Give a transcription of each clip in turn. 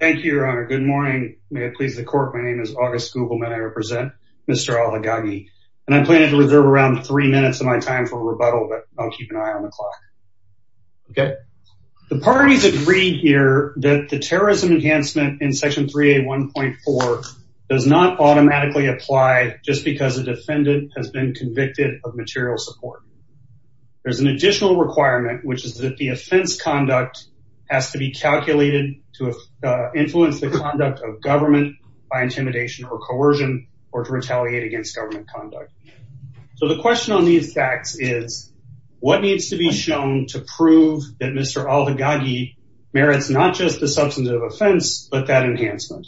Thank you, your honor. Good morning. May it please the court. My name is August Gugelman. I represent Mr. Alhaggagi, and I'm planning to reserve around three minutes of my time for rebuttal, but I'll keep an eye on the clock. Okay. The parties agreed here that the terrorism enhancement in Section 3A1.4 does not automatically apply just because a defendant has been convicted of material support. There's an additional requirement, which is that the offense conduct has to be calculated to influence the conduct of government by intimidation or coercion, or to retaliate against government conduct. So the question on these facts is what needs to be shown to prove that Mr. Alhaggagi merits not just the substantive offense, but that enhancement.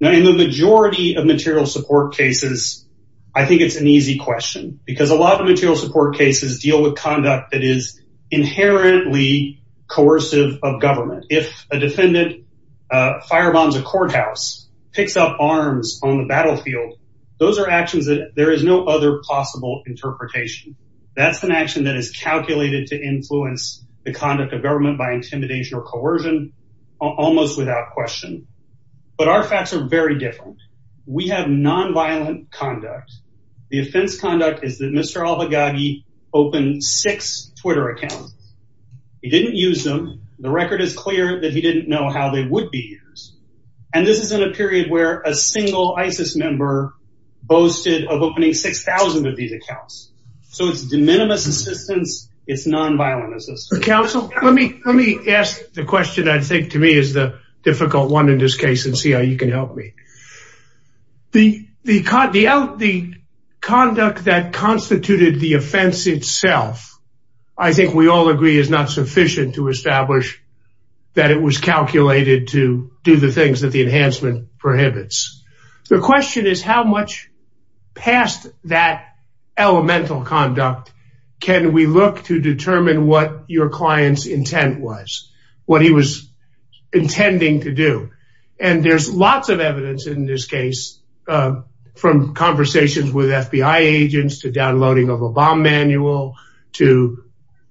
Now in the majority of material support cases, I think it's an easy question because a lot of material support cases deal with conduct that is inherently coercive of government. If a defendant firebombs a courthouse, picks up arms on the battlefield, those are actions that there is no other possible interpretation. That's an action that is calculated to influence the conduct of government by intimidation or coercion, almost without question. But our facts are very different. We have nonviolent conduct. The offense conduct is that Mr. Alhaggagi opened six Twitter accounts. He didn't use them. The record is clear that he didn't know how they would be used. And this is in a period where a single ISIS member boasted of opening 6,000 of these accounts. So it's de minimis assistance. It's nonviolent assistance. Counsel, let me ask the question that I think to me is the difficult one in this case and see how you can help me. The conduct that constituted the offense itself, I think we all agree is not sufficient to establish that it was calculated to do the things that the enhancement prohibits. The question is how much past that elemental conduct can we look to determine what your client's intent was, what he was intending to do. And there's lots of evidence in this case from conversations with FBI agents to downloading of a bomb manual to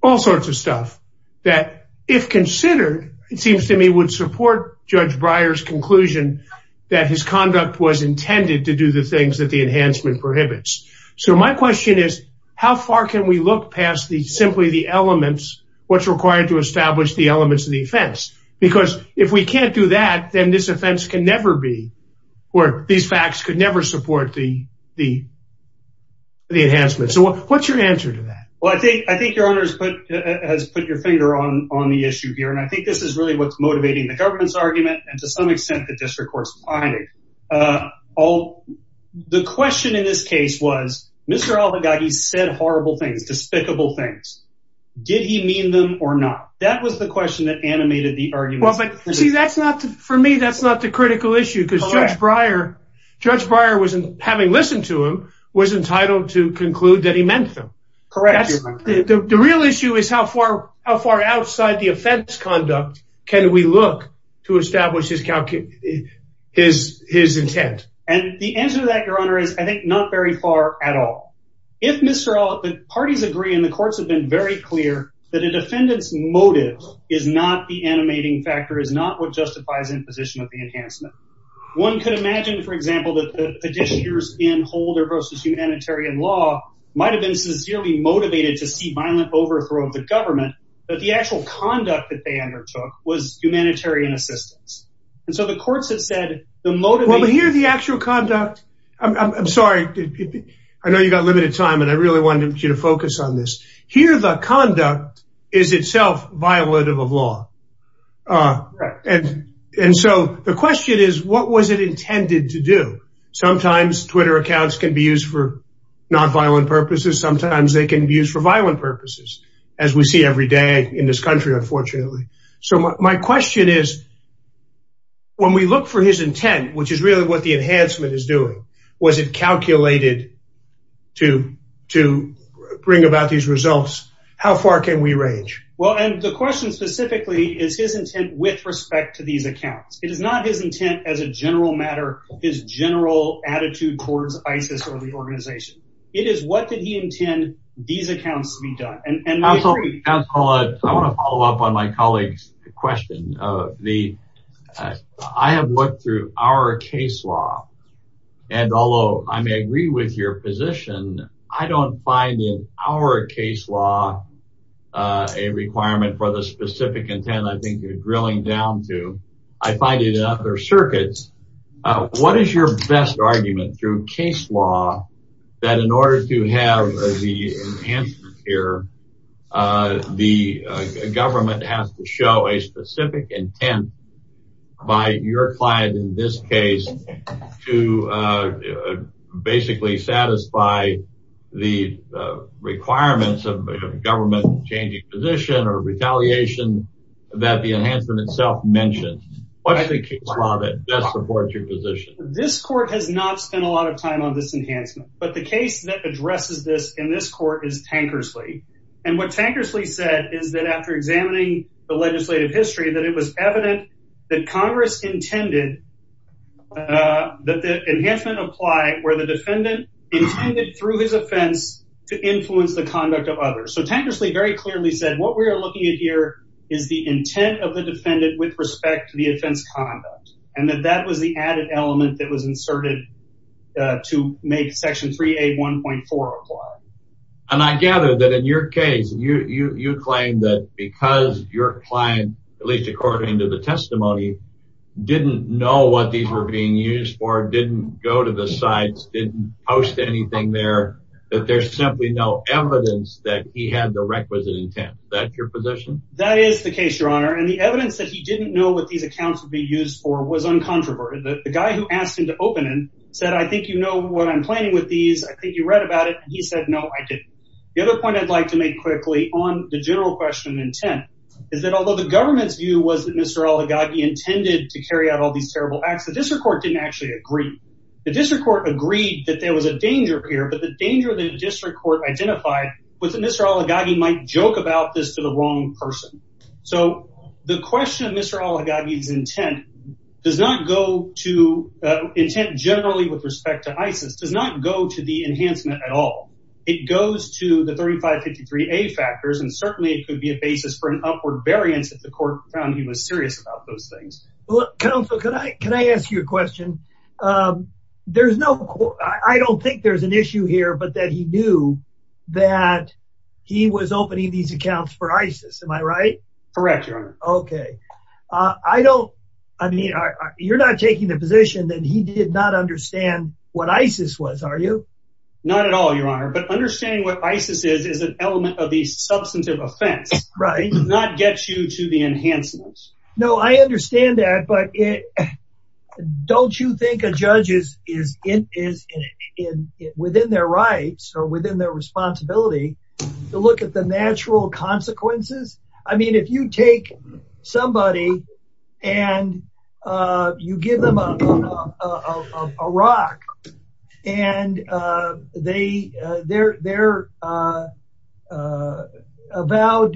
all sorts of stuff that if was intended to do the things that the enhancement prohibits. So my question is, how far can we look past the simply the elements, what's required to establish the elements of the offense? Because if we can't do that, then this offense can never be where these facts could never support the enhancement. So what's your answer to that? Well, I think your honor has put your finger on the issue here. And I think this is really what's motivating the government's argument. And to some extent, the district court's finding. The question in this case was, Mr. Oligarchy said horrible things, despicable things. Did he mean them or not? That was the question that animated the argument. Well, but see, that's not for me, that's not the critical issue. Because Judge Breyer, Judge Breyer was having listened to him, was entitled to conclude that he meant them. Correct. The real issue is how far outside the offense conduct can we look to establish his intent? And the answer to that, your honor, is I think not very far at all. If Mr. Oligarchy, the parties agree, and the courts have been very clear that a defendant's motive is not the animating factor, is not what justifies imposition of the enhancement. One could imagine, for example, that the petitioners in Holder v. Humanitarian Law might have been sincerely motivated to see violent overthrow of the government, but the actual conduct that they undertook was humanitarian assistance. And so the courts have said the motive... Well, here, the actual conduct... I'm sorry, I know you've got limited time, and I really wanted you to focus on this. Here, the conduct is itself violative of law. And so the question is, what was it intended to do? Sometimes Twitter accounts can be used for nonviolent purposes. Sometimes they can be used for violent purposes, as we see every day in this country, unfortunately. So my question is, when we look for his intent, which is really what the enhancement is doing, was it calculated to bring about these results? How far can we range? Well, and the question specifically is his intent with respect to these accounts. It is not his intent as a general matter, his general attitude towards ISIS or the organization. It is what did he intend these accounts to be done? Counselor, I want to follow up on my colleague's question. I have looked through our case law, and although I may agree with your position, I don't find in our case law a requirement for the specific intent I think you're drilling down to. I find it in other circuits. What is your best argument through case law that in order to have the enhancement here, the government has to show a specific intent by your client in this case to basically satisfy the requirements of a government changing position or retaliation that the enhancement itself mentioned? What's the case law that best supports your position? This court has not spent a lot of time on this enhancement, but the case that addresses this in this court is Tankersley. And what Tankersley said is that after examining the legislative history that it was evident that Congress intended that the enhancement apply where the defendant intended through his offense to influence the conduct of others. So Tankersley very clearly said what we are looking at here is the intent of the defendant with respect to defense conduct. And that was the added element that was inserted to make Section 3A 1.4 apply. And I gather that in your case, you claim that because your client, at least according to the testimony, didn't know what these were being used for, didn't go to the sites, didn't post anything there, that there's simply no evidence that he had the requisite intent. Is that your position? That is the case, Your Honor. And the evidence that he didn't know what these accounts would be used for was uncontroverted. The guy who asked him to open and said, I think you know what I'm planning with these. I think you read about it. He said, no, I didn't. The other point I'd like to make quickly on the general question intent is that although the government's view was that Mr. Oligarchy intended to carry out all these terrible acts, the district court didn't actually agree. The district court agreed that there was a danger here, but the danger of the district court identified was that Mr. Oligarchy might joke about this to the wrong person. So the question of Mr. Oligarchy's intent does not go to, intent generally with respect to ISIS, does not go to the enhancement at all. It goes to the 3553A factors, and certainly it could be a basis for an upward variance if the court found he was serious about those things. Well, counsel, can I ask you a that he was opening these accounts for ISIS, am I right? Correct, your honor. Okay. I don't, I mean, you're not taking the position that he did not understand what ISIS was, are you? Not at all, your honor. But understanding what ISIS is, is an element of the substantive offense. Right. It does not get you to the enhancements. No, I understand that, but it, don't you think a judge is within their rights or within their responsibility to look at the natural consequences? I mean, if you take somebody and you give them a rock, and they, their vowed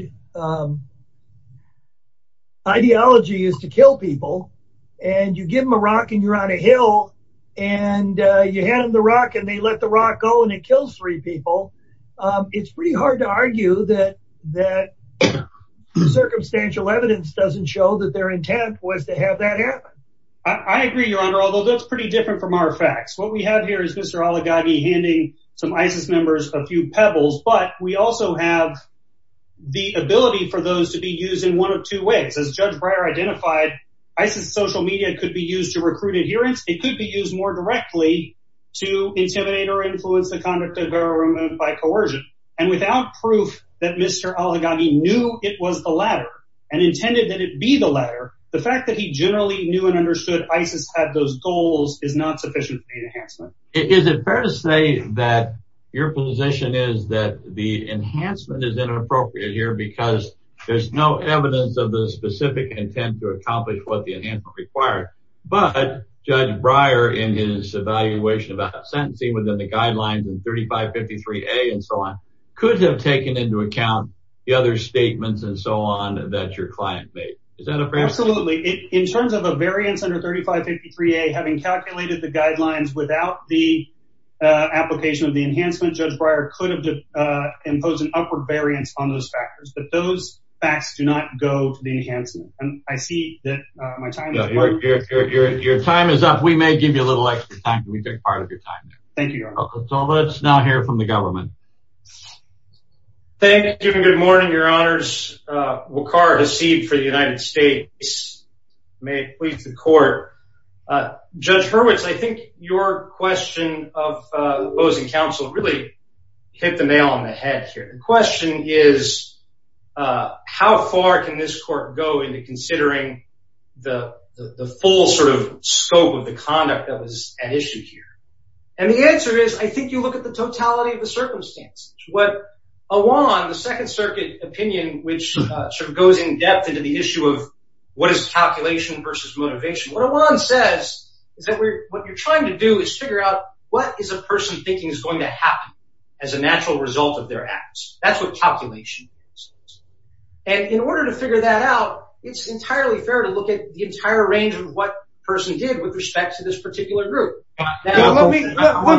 to kill people, and you give them a rock and you're on a hill, and you hand them the rock, and they let the rock go, and it kills three people, it's pretty hard to argue that circumstantial evidence doesn't show that their intent was to have that happen. I agree, your honor, although that's pretty different from our facts. What we have here is Mr. Oligarchy handing some ISIS members a few pebbles, but we also have the ability for those to be used in one of two ways. As Judge Breyer identified, ISIS social media could be used to recruit adherence, it could be used more directly to intimidate or influence the conduct of government by coercion. And without proof that Mr. Oligarchy knew it was the latter, and intended that it be the latter, the fact that he generally knew and understood ISIS had those goals is not sufficient for the enhancement. Is it fair to say that your position is that the enhancement is inappropriate here because there's no evidence of the specific intent to accomplish what the enhancement required, but Judge Breyer in his evaluation about sentencing within the guidelines and 3553-A and so on, could have taken into account the other statements and so on that your client made. Is that a fair statement? Absolutely. In terms of a variance under 3553-A, having calculated the guidelines without the application of the enhancement, Judge Breyer could have imposed an upward variance on those factors, but those facts do not go to the enhancement. And I see that my time is up. Your time is up. We may give you a little extra time. We take part of your time. Thank you, Your Honor. So let's now hear from the government. Thank you and good morning, Your Honors. Wakar Hasid for the United States. May it please the The question is, how far can this court go into considering the full sort of scope of the conduct that was at issue here? And the answer is, I think you look at the totality of the circumstance. What Awan, the Second Circuit opinion, which sort of goes in depth into the issue of what is calculation versus motivation. What Awan says is that what you're trying to do is figure out what is a person thinking is going to happen as a natural result of their acts. That's what calculation is. And in order to figure that out, it's entirely fair to look at the entire range of what the person did with respect to this particular group. Let me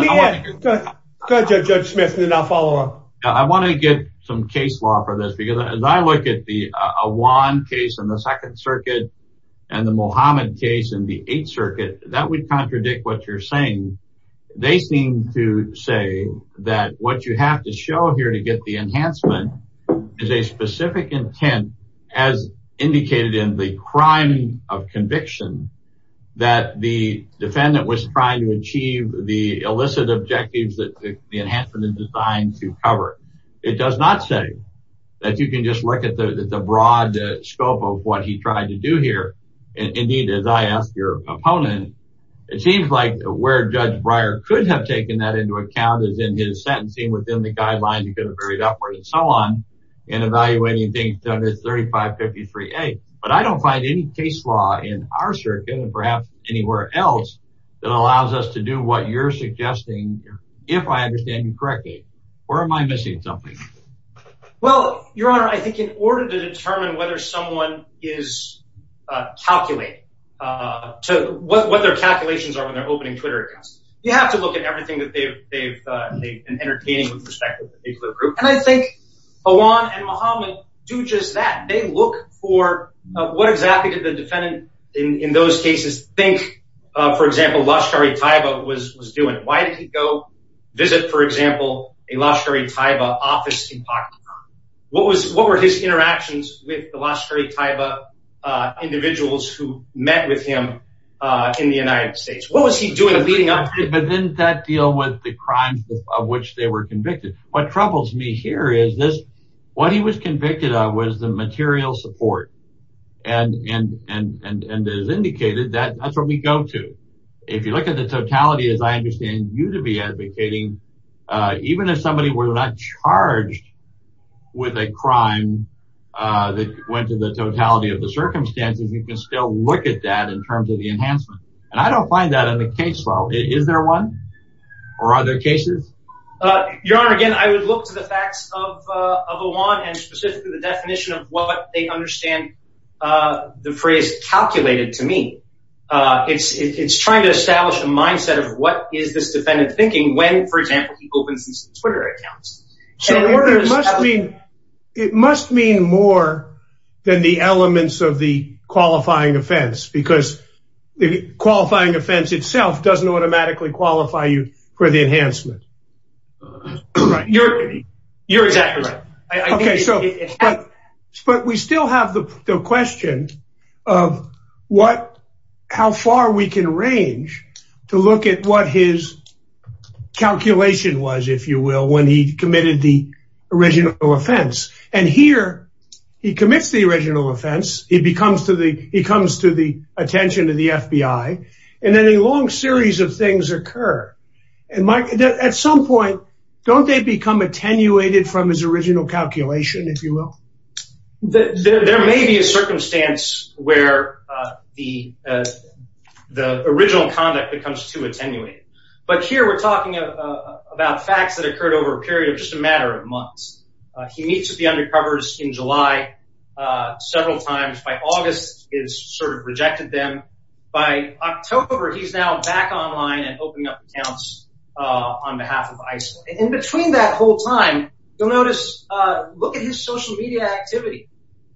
end. Go ahead, Judge Smith, and then I'll follow up. I want to get some case law for this because as I look at the Awan case in the Second Circuit and the Mohammed case in the Eighth Circuit, that would contradict what you're saying they seem to say that what you have to show here to get the enhancement is a specific intent as indicated in the crime of conviction that the defendant was trying to achieve the illicit objectives that the enhancement is designed to cover. It does not say that you can just look at the broad scope of what he tried to do here. Indeed, as I asked your opponent, it seems like where Judge Breyer could have taken that into account is in his sentencing within the guidelines he could have varied upwards and so on in evaluating things under 3553A. But I don't find any case law in our circuit and perhaps anywhere else that allows us to do what you're suggesting if I understand you correctly. Or am I missing something? Well, Your Honor, I think in calculations are when they're opening Twitter accounts. You have to look at everything that they've been entertaining with respect to the group. And I think Awan and Mohammed do just that. They look for what exactly did the defendant in those cases think, for example, Lashkar-e-Taiba was doing? Why did he go visit, for example, a Lashkar-e-Taiba office in Pakistan? What were his interactions with the Lashkar-e-Taiba individuals who met with him in the United States? What was he doing? But didn't that deal with the crimes of which they were convicted? What troubles me here is this, what he was convicted of was the material support. And, and, and, and as indicated that that's what we go to. If you look at the totality, as I understand you to be advocating, even if somebody were not charged with a crime that went to the totality of the circumstances, you can still look at that in terms of the enhancement. And I don't find that in the case law. Is there one? Or are there cases? Your Honor, again, I would look to the facts of Awan and specifically the definition of what they is this defendant thinking when, for example, he opens his Twitter accounts? It must mean more than the elements of the qualifying offense, because the qualifying offense itself doesn't automatically qualify you for the enhancement. You're, you're exactly right. Okay, so, but we still have the question of what, how far we can range to look at what his calculation was, if you will, when he committed the original offense. And here, he commits the original offense, he becomes to the, he comes to the attention of the FBI, and then a long series of things occur. And Mike, at some point, don't they become attenuated from his original calculation, if you will? There may be a circumstance where the, the original conduct becomes too attenuated. But here we're talking about facts that occurred over a period of just a matter of months. He meets with the undercovers in July, several times by August is sort of and opening up accounts on behalf of ISIL. And between that whole time, you'll notice, look at his social media activity.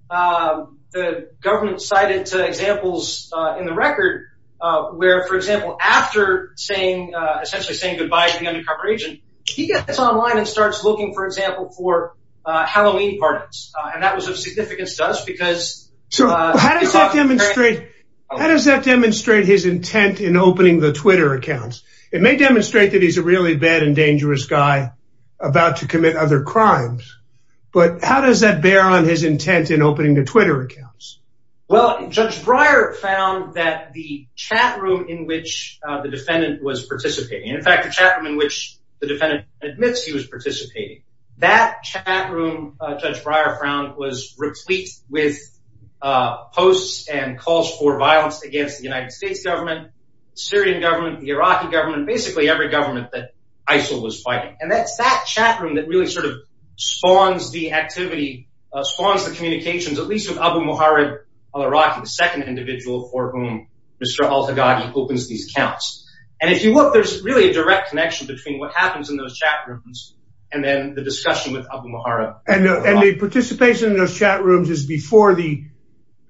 The government cited examples in the record, where, for example, after saying, essentially saying goodbye to the undercover agent, he gets online and starts looking, for example, for Halloween parties. And that was of significance to us because... So how does that demonstrate, how does that demonstrate his intent in opening the Twitter accounts? It may demonstrate that he's a really bad and dangerous guy about to commit other crimes. But how does that bear on his intent in opening the Twitter accounts? Well, Judge Breyer found that the chat room in which the defendant was participating, in fact, the chat room in which the defendant admits he was participating, that chat room, Judge Breyer found was replete with posts and calls for violence against the United States government, Syrian government, the Iraqi government, basically every government that ISIL was fighting. And that's that chat room that really sort of spawns the activity, spawns the communications, at least with Abu Muharib al-Iraqi, the second individual for whom Mr. al-Haddad opens these accounts. And if you look, there's really a direct connection between what happens in those chat rooms, and then the discussion with Abu Muharib. And the participation in those chat rooms is before the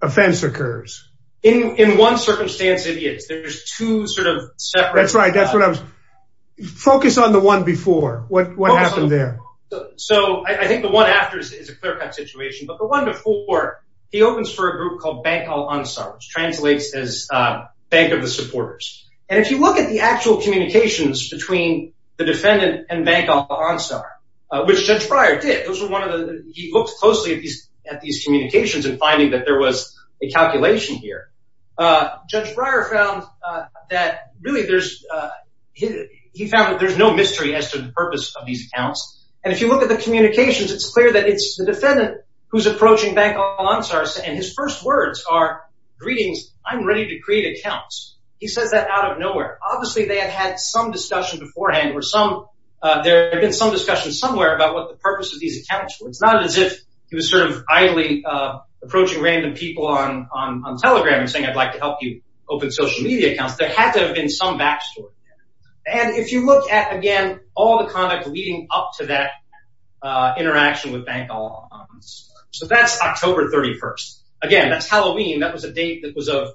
offense occurs? In one circumstance, it is. There's two sort of separate... That's right. That's what I was... Focus on the one before. What happened there? So I think the one after is a clear-cut situation. But the one before, he opens for a group called Banq al-Ansar, which translates as Bank of the Supporters. And if you look at the actual communications between the defendant and Banq al-Ansar, which Judge Breyer did, those were one of the... He looked closely at these communications and finding that there was a calculation here. Judge Breyer found that really there's... He found that there's no mystery as to the purpose of these accounts. And if you look at the communications, it's clear that it's the defendant who's approaching Banq al-Ansar, and his first words are, greetings, I'm ready to create accounts. He says that out of nowhere. Obviously, they had had some discussion beforehand, or some... There had been some discussion somewhere about what the purpose of these accounts were. It's not as if he was sort of idly approaching random people on Telegram and saying, I'd like to help you open social media accounts. There had to have been some backstory. And if you look at, again, all the conduct leading up to that interaction with Banq al-Ansar... So that's October 31st. Again, that's Halloween. That was a date that was of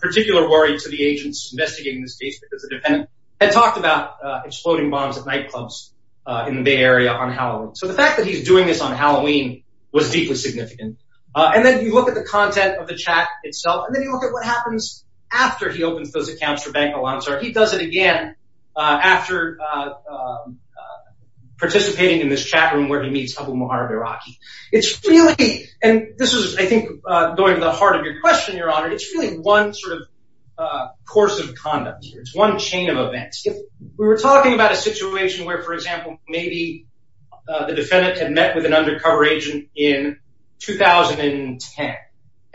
particular worry to the agents investigating this case because the defendant had talked about exploding bombs at nightclubs in the Bay Area on Halloween. So the fact that he's doing this on Halloween was deeply significant. And then you look at the content of the chat itself, and then you look at what happens after he opens those accounts for Banq al-Ansar. He does it again after participating in this chatroom where he meets Abu Maher al-Baraqi. It's really... And this is, I think, going to the heart of your question, Your Honor. It's really one sort of course of conduct here. It's one chain of events. We were talking about a situation where, for example, maybe the defendant had met with an undercover agent in 2010.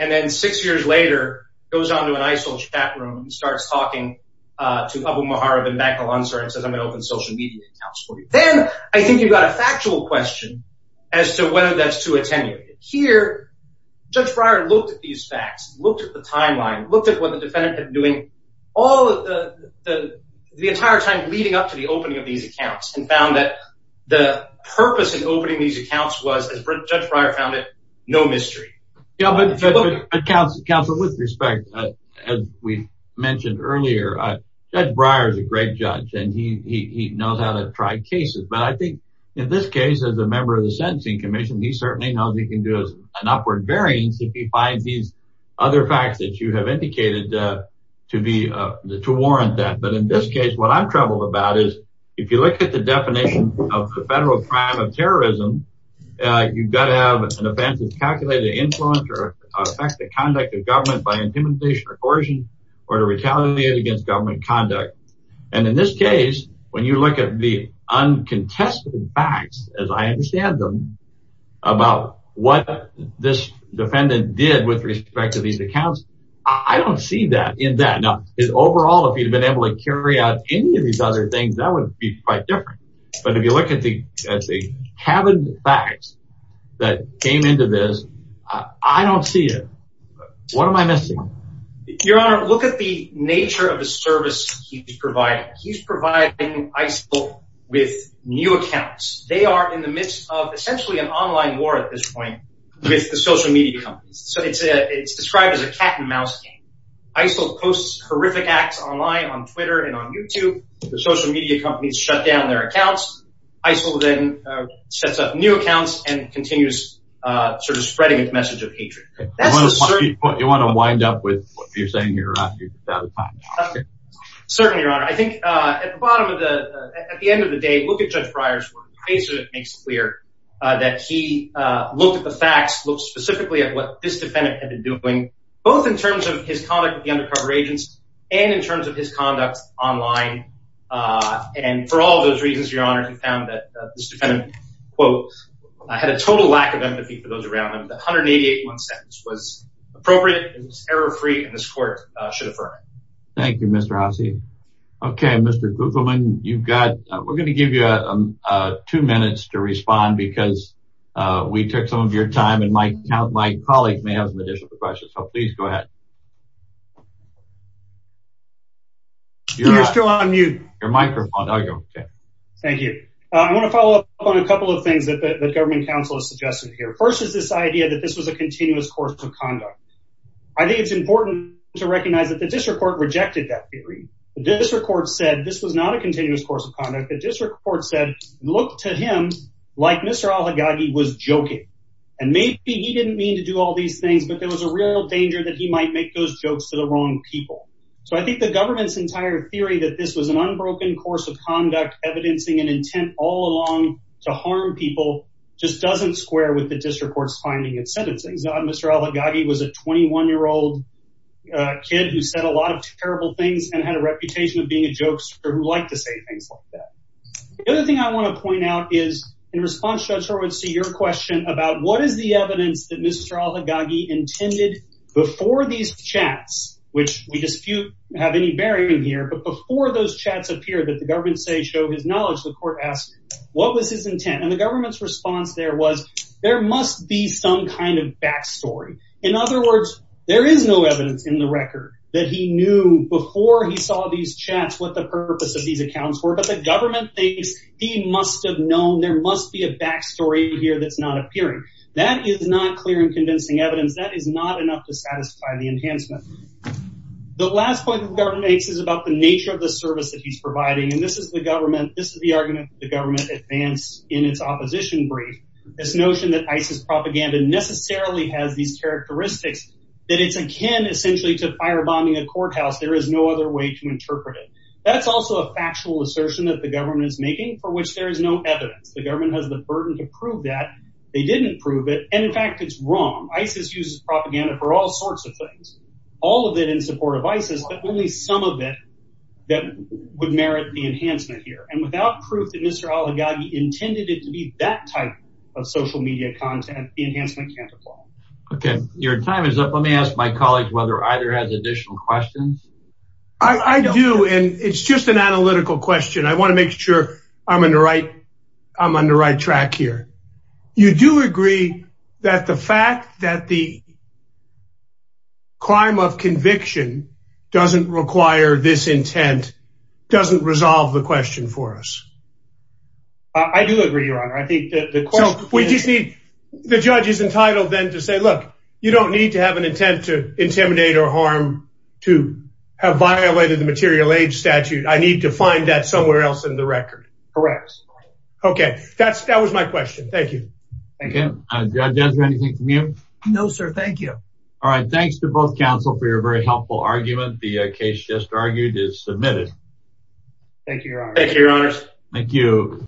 And then six years later, goes on to an ISIL chatroom and starts talking to Abu Maher of Banq al-Ansar and says, I'm going to open social media accounts for you. Then I think you've got a factual question as to whether that's too attenuated. Here, Judge Breyer looked at these facts, looked at the timeline, looked at what the defendant had been doing the entire time leading up to the opening of these accounts and found that the purpose in opening these accounts was, as Judge Breyer found it, no mystery. Counsel, with respect, as we mentioned earlier, Judge Breyer is a great judge and he knows how to try cases. But I think in this case, as a member of the Sentencing Commission, he certainly knows he can do an upward variance if he finds these other facts that you have indicated to warrant that. But in this case, what I'm troubled about is if you look at the definition of federal crime of terrorism, you've got to have an offense that's calculated to influence or affect the conduct of government by intimidation or coercion or to retaliate against government conduct. And in this case, when you look at the uncontested facts, as I understand about what this defendant did with respect to these accounts, I don't see that in that. Now, overall, if he'd been able to carry out any of these other things, that would be quite different. But if you look at the cabinet facts that came into this, I don't see it. What am I missing? Your Honor, look at the nature of the service he's providing. He's providing ISIL with new online war at this point with the social media companies. So it's described as a cat and mouse game. ISIL posts horrific acts online on Twitter and on YouTube. The social media companies shut down their accounts. ISIL then sets up new accounts and continues sort of spreading its message of hatred. You want to wind up with what you're saying here? You're out of time. Certainly, Your Honor. I think at the end of the day, look at Judge Breyer's work. Basically, it makes it clear that he looked at the facts, looked specifically at what this defendant had been doing, both in terms of his conduct with the undercover agents and in terms of his conduct online. And for all those reasons, Your Honor, he found that this defendant, quote, had a total lack of empathy for those around him. The 188-1 sentence was appropriate, it was error-free, and this court should affirm it. Thank you, Mr. Haase. Okay, Mr. Kupfelman, we're going to give you two minutes to respond because we took some of your time and my colleague may have some additional questions. So please go ahead. You're still on mute. Your microphone. Thank you. I want to follow up on a couple of things that Government Counsel has suggested here. First is this idea that this was a continuous course of conduct. The district court said this was not a continuous course of conduct. The district court said, look to him like Mr. Alhaggagi was joking. And maybe he didn't mean to do all these things, but there was a real danger that he might make those jokes to the wrong people. So I think the government's entire theory that this was an unbroken course of conduct, evidencing an intent all along to harm people, just doesn't square with the district court's finding and sentencing. Mr. Alhaggagi was a 21-year-old kid who said a lot of terrible things and had a reputation of being a jokester who liked to say things like that. The other thing I want to point out is in response to your question about what is the evidence that Mr. Alhaggagi intended before these chats, which we dispute have any bearing here, but before those chats appear that the government say show his knowledge, the court asks, what was his intent? And the government's kind of backstory. In other words, there is no evidence in the record that he knew before he saw these chats, what the purpose of these accounts were, but the government thinks he must have known. There must be a backstory here. That's not appearing. That is not clear and convincing evidence that is not enough to satisfy the enhancement. The last point that the government makes is about the nature of the service that he's providing. And this is the government. This is the argument that the government advanced in its opposition brief. This notion that ISIS propaganda necessarily has these characteristics that it's akin essentially to firebombing a courthouse. There is no other way to interpret it. That's also a factual assertion that the government is making for which there is no evidence. The government has the burden to prove that they didn't prove it. And in fact, it's wrong. ISIS uses propaganda for all sorts of things, all of it in support of ISIS, but only some of it that would merit the enhancement here. Without proof that Mr. Oligarchy intended it to be that type of social media content, the enhancement can't apply. Okay, your time is up. Let me ask my colleagues whether either has additional questions. I do and it's just an analytical question. I want to make sure I'm in the right. I'm on the right track here. You do agree that the fact that the crime of conviction doesn't require this intent doesn't resolve the question for us. I do agree, your honor. I think that the question we just need the judge is entitled then to say, look, you don't need to have an intent to intimidate or harm to have violated the material age statute. I need to find that somewhere else in the record. Correct. Okay, that's that was my question. Thank you. Okay. Judge, anything from you? No, sir. Thank you. All right. Thanks to both counsel for your very helpful argument. The case just argued is submitted. Thank you, your honor. Thank you, your honors. Thank you.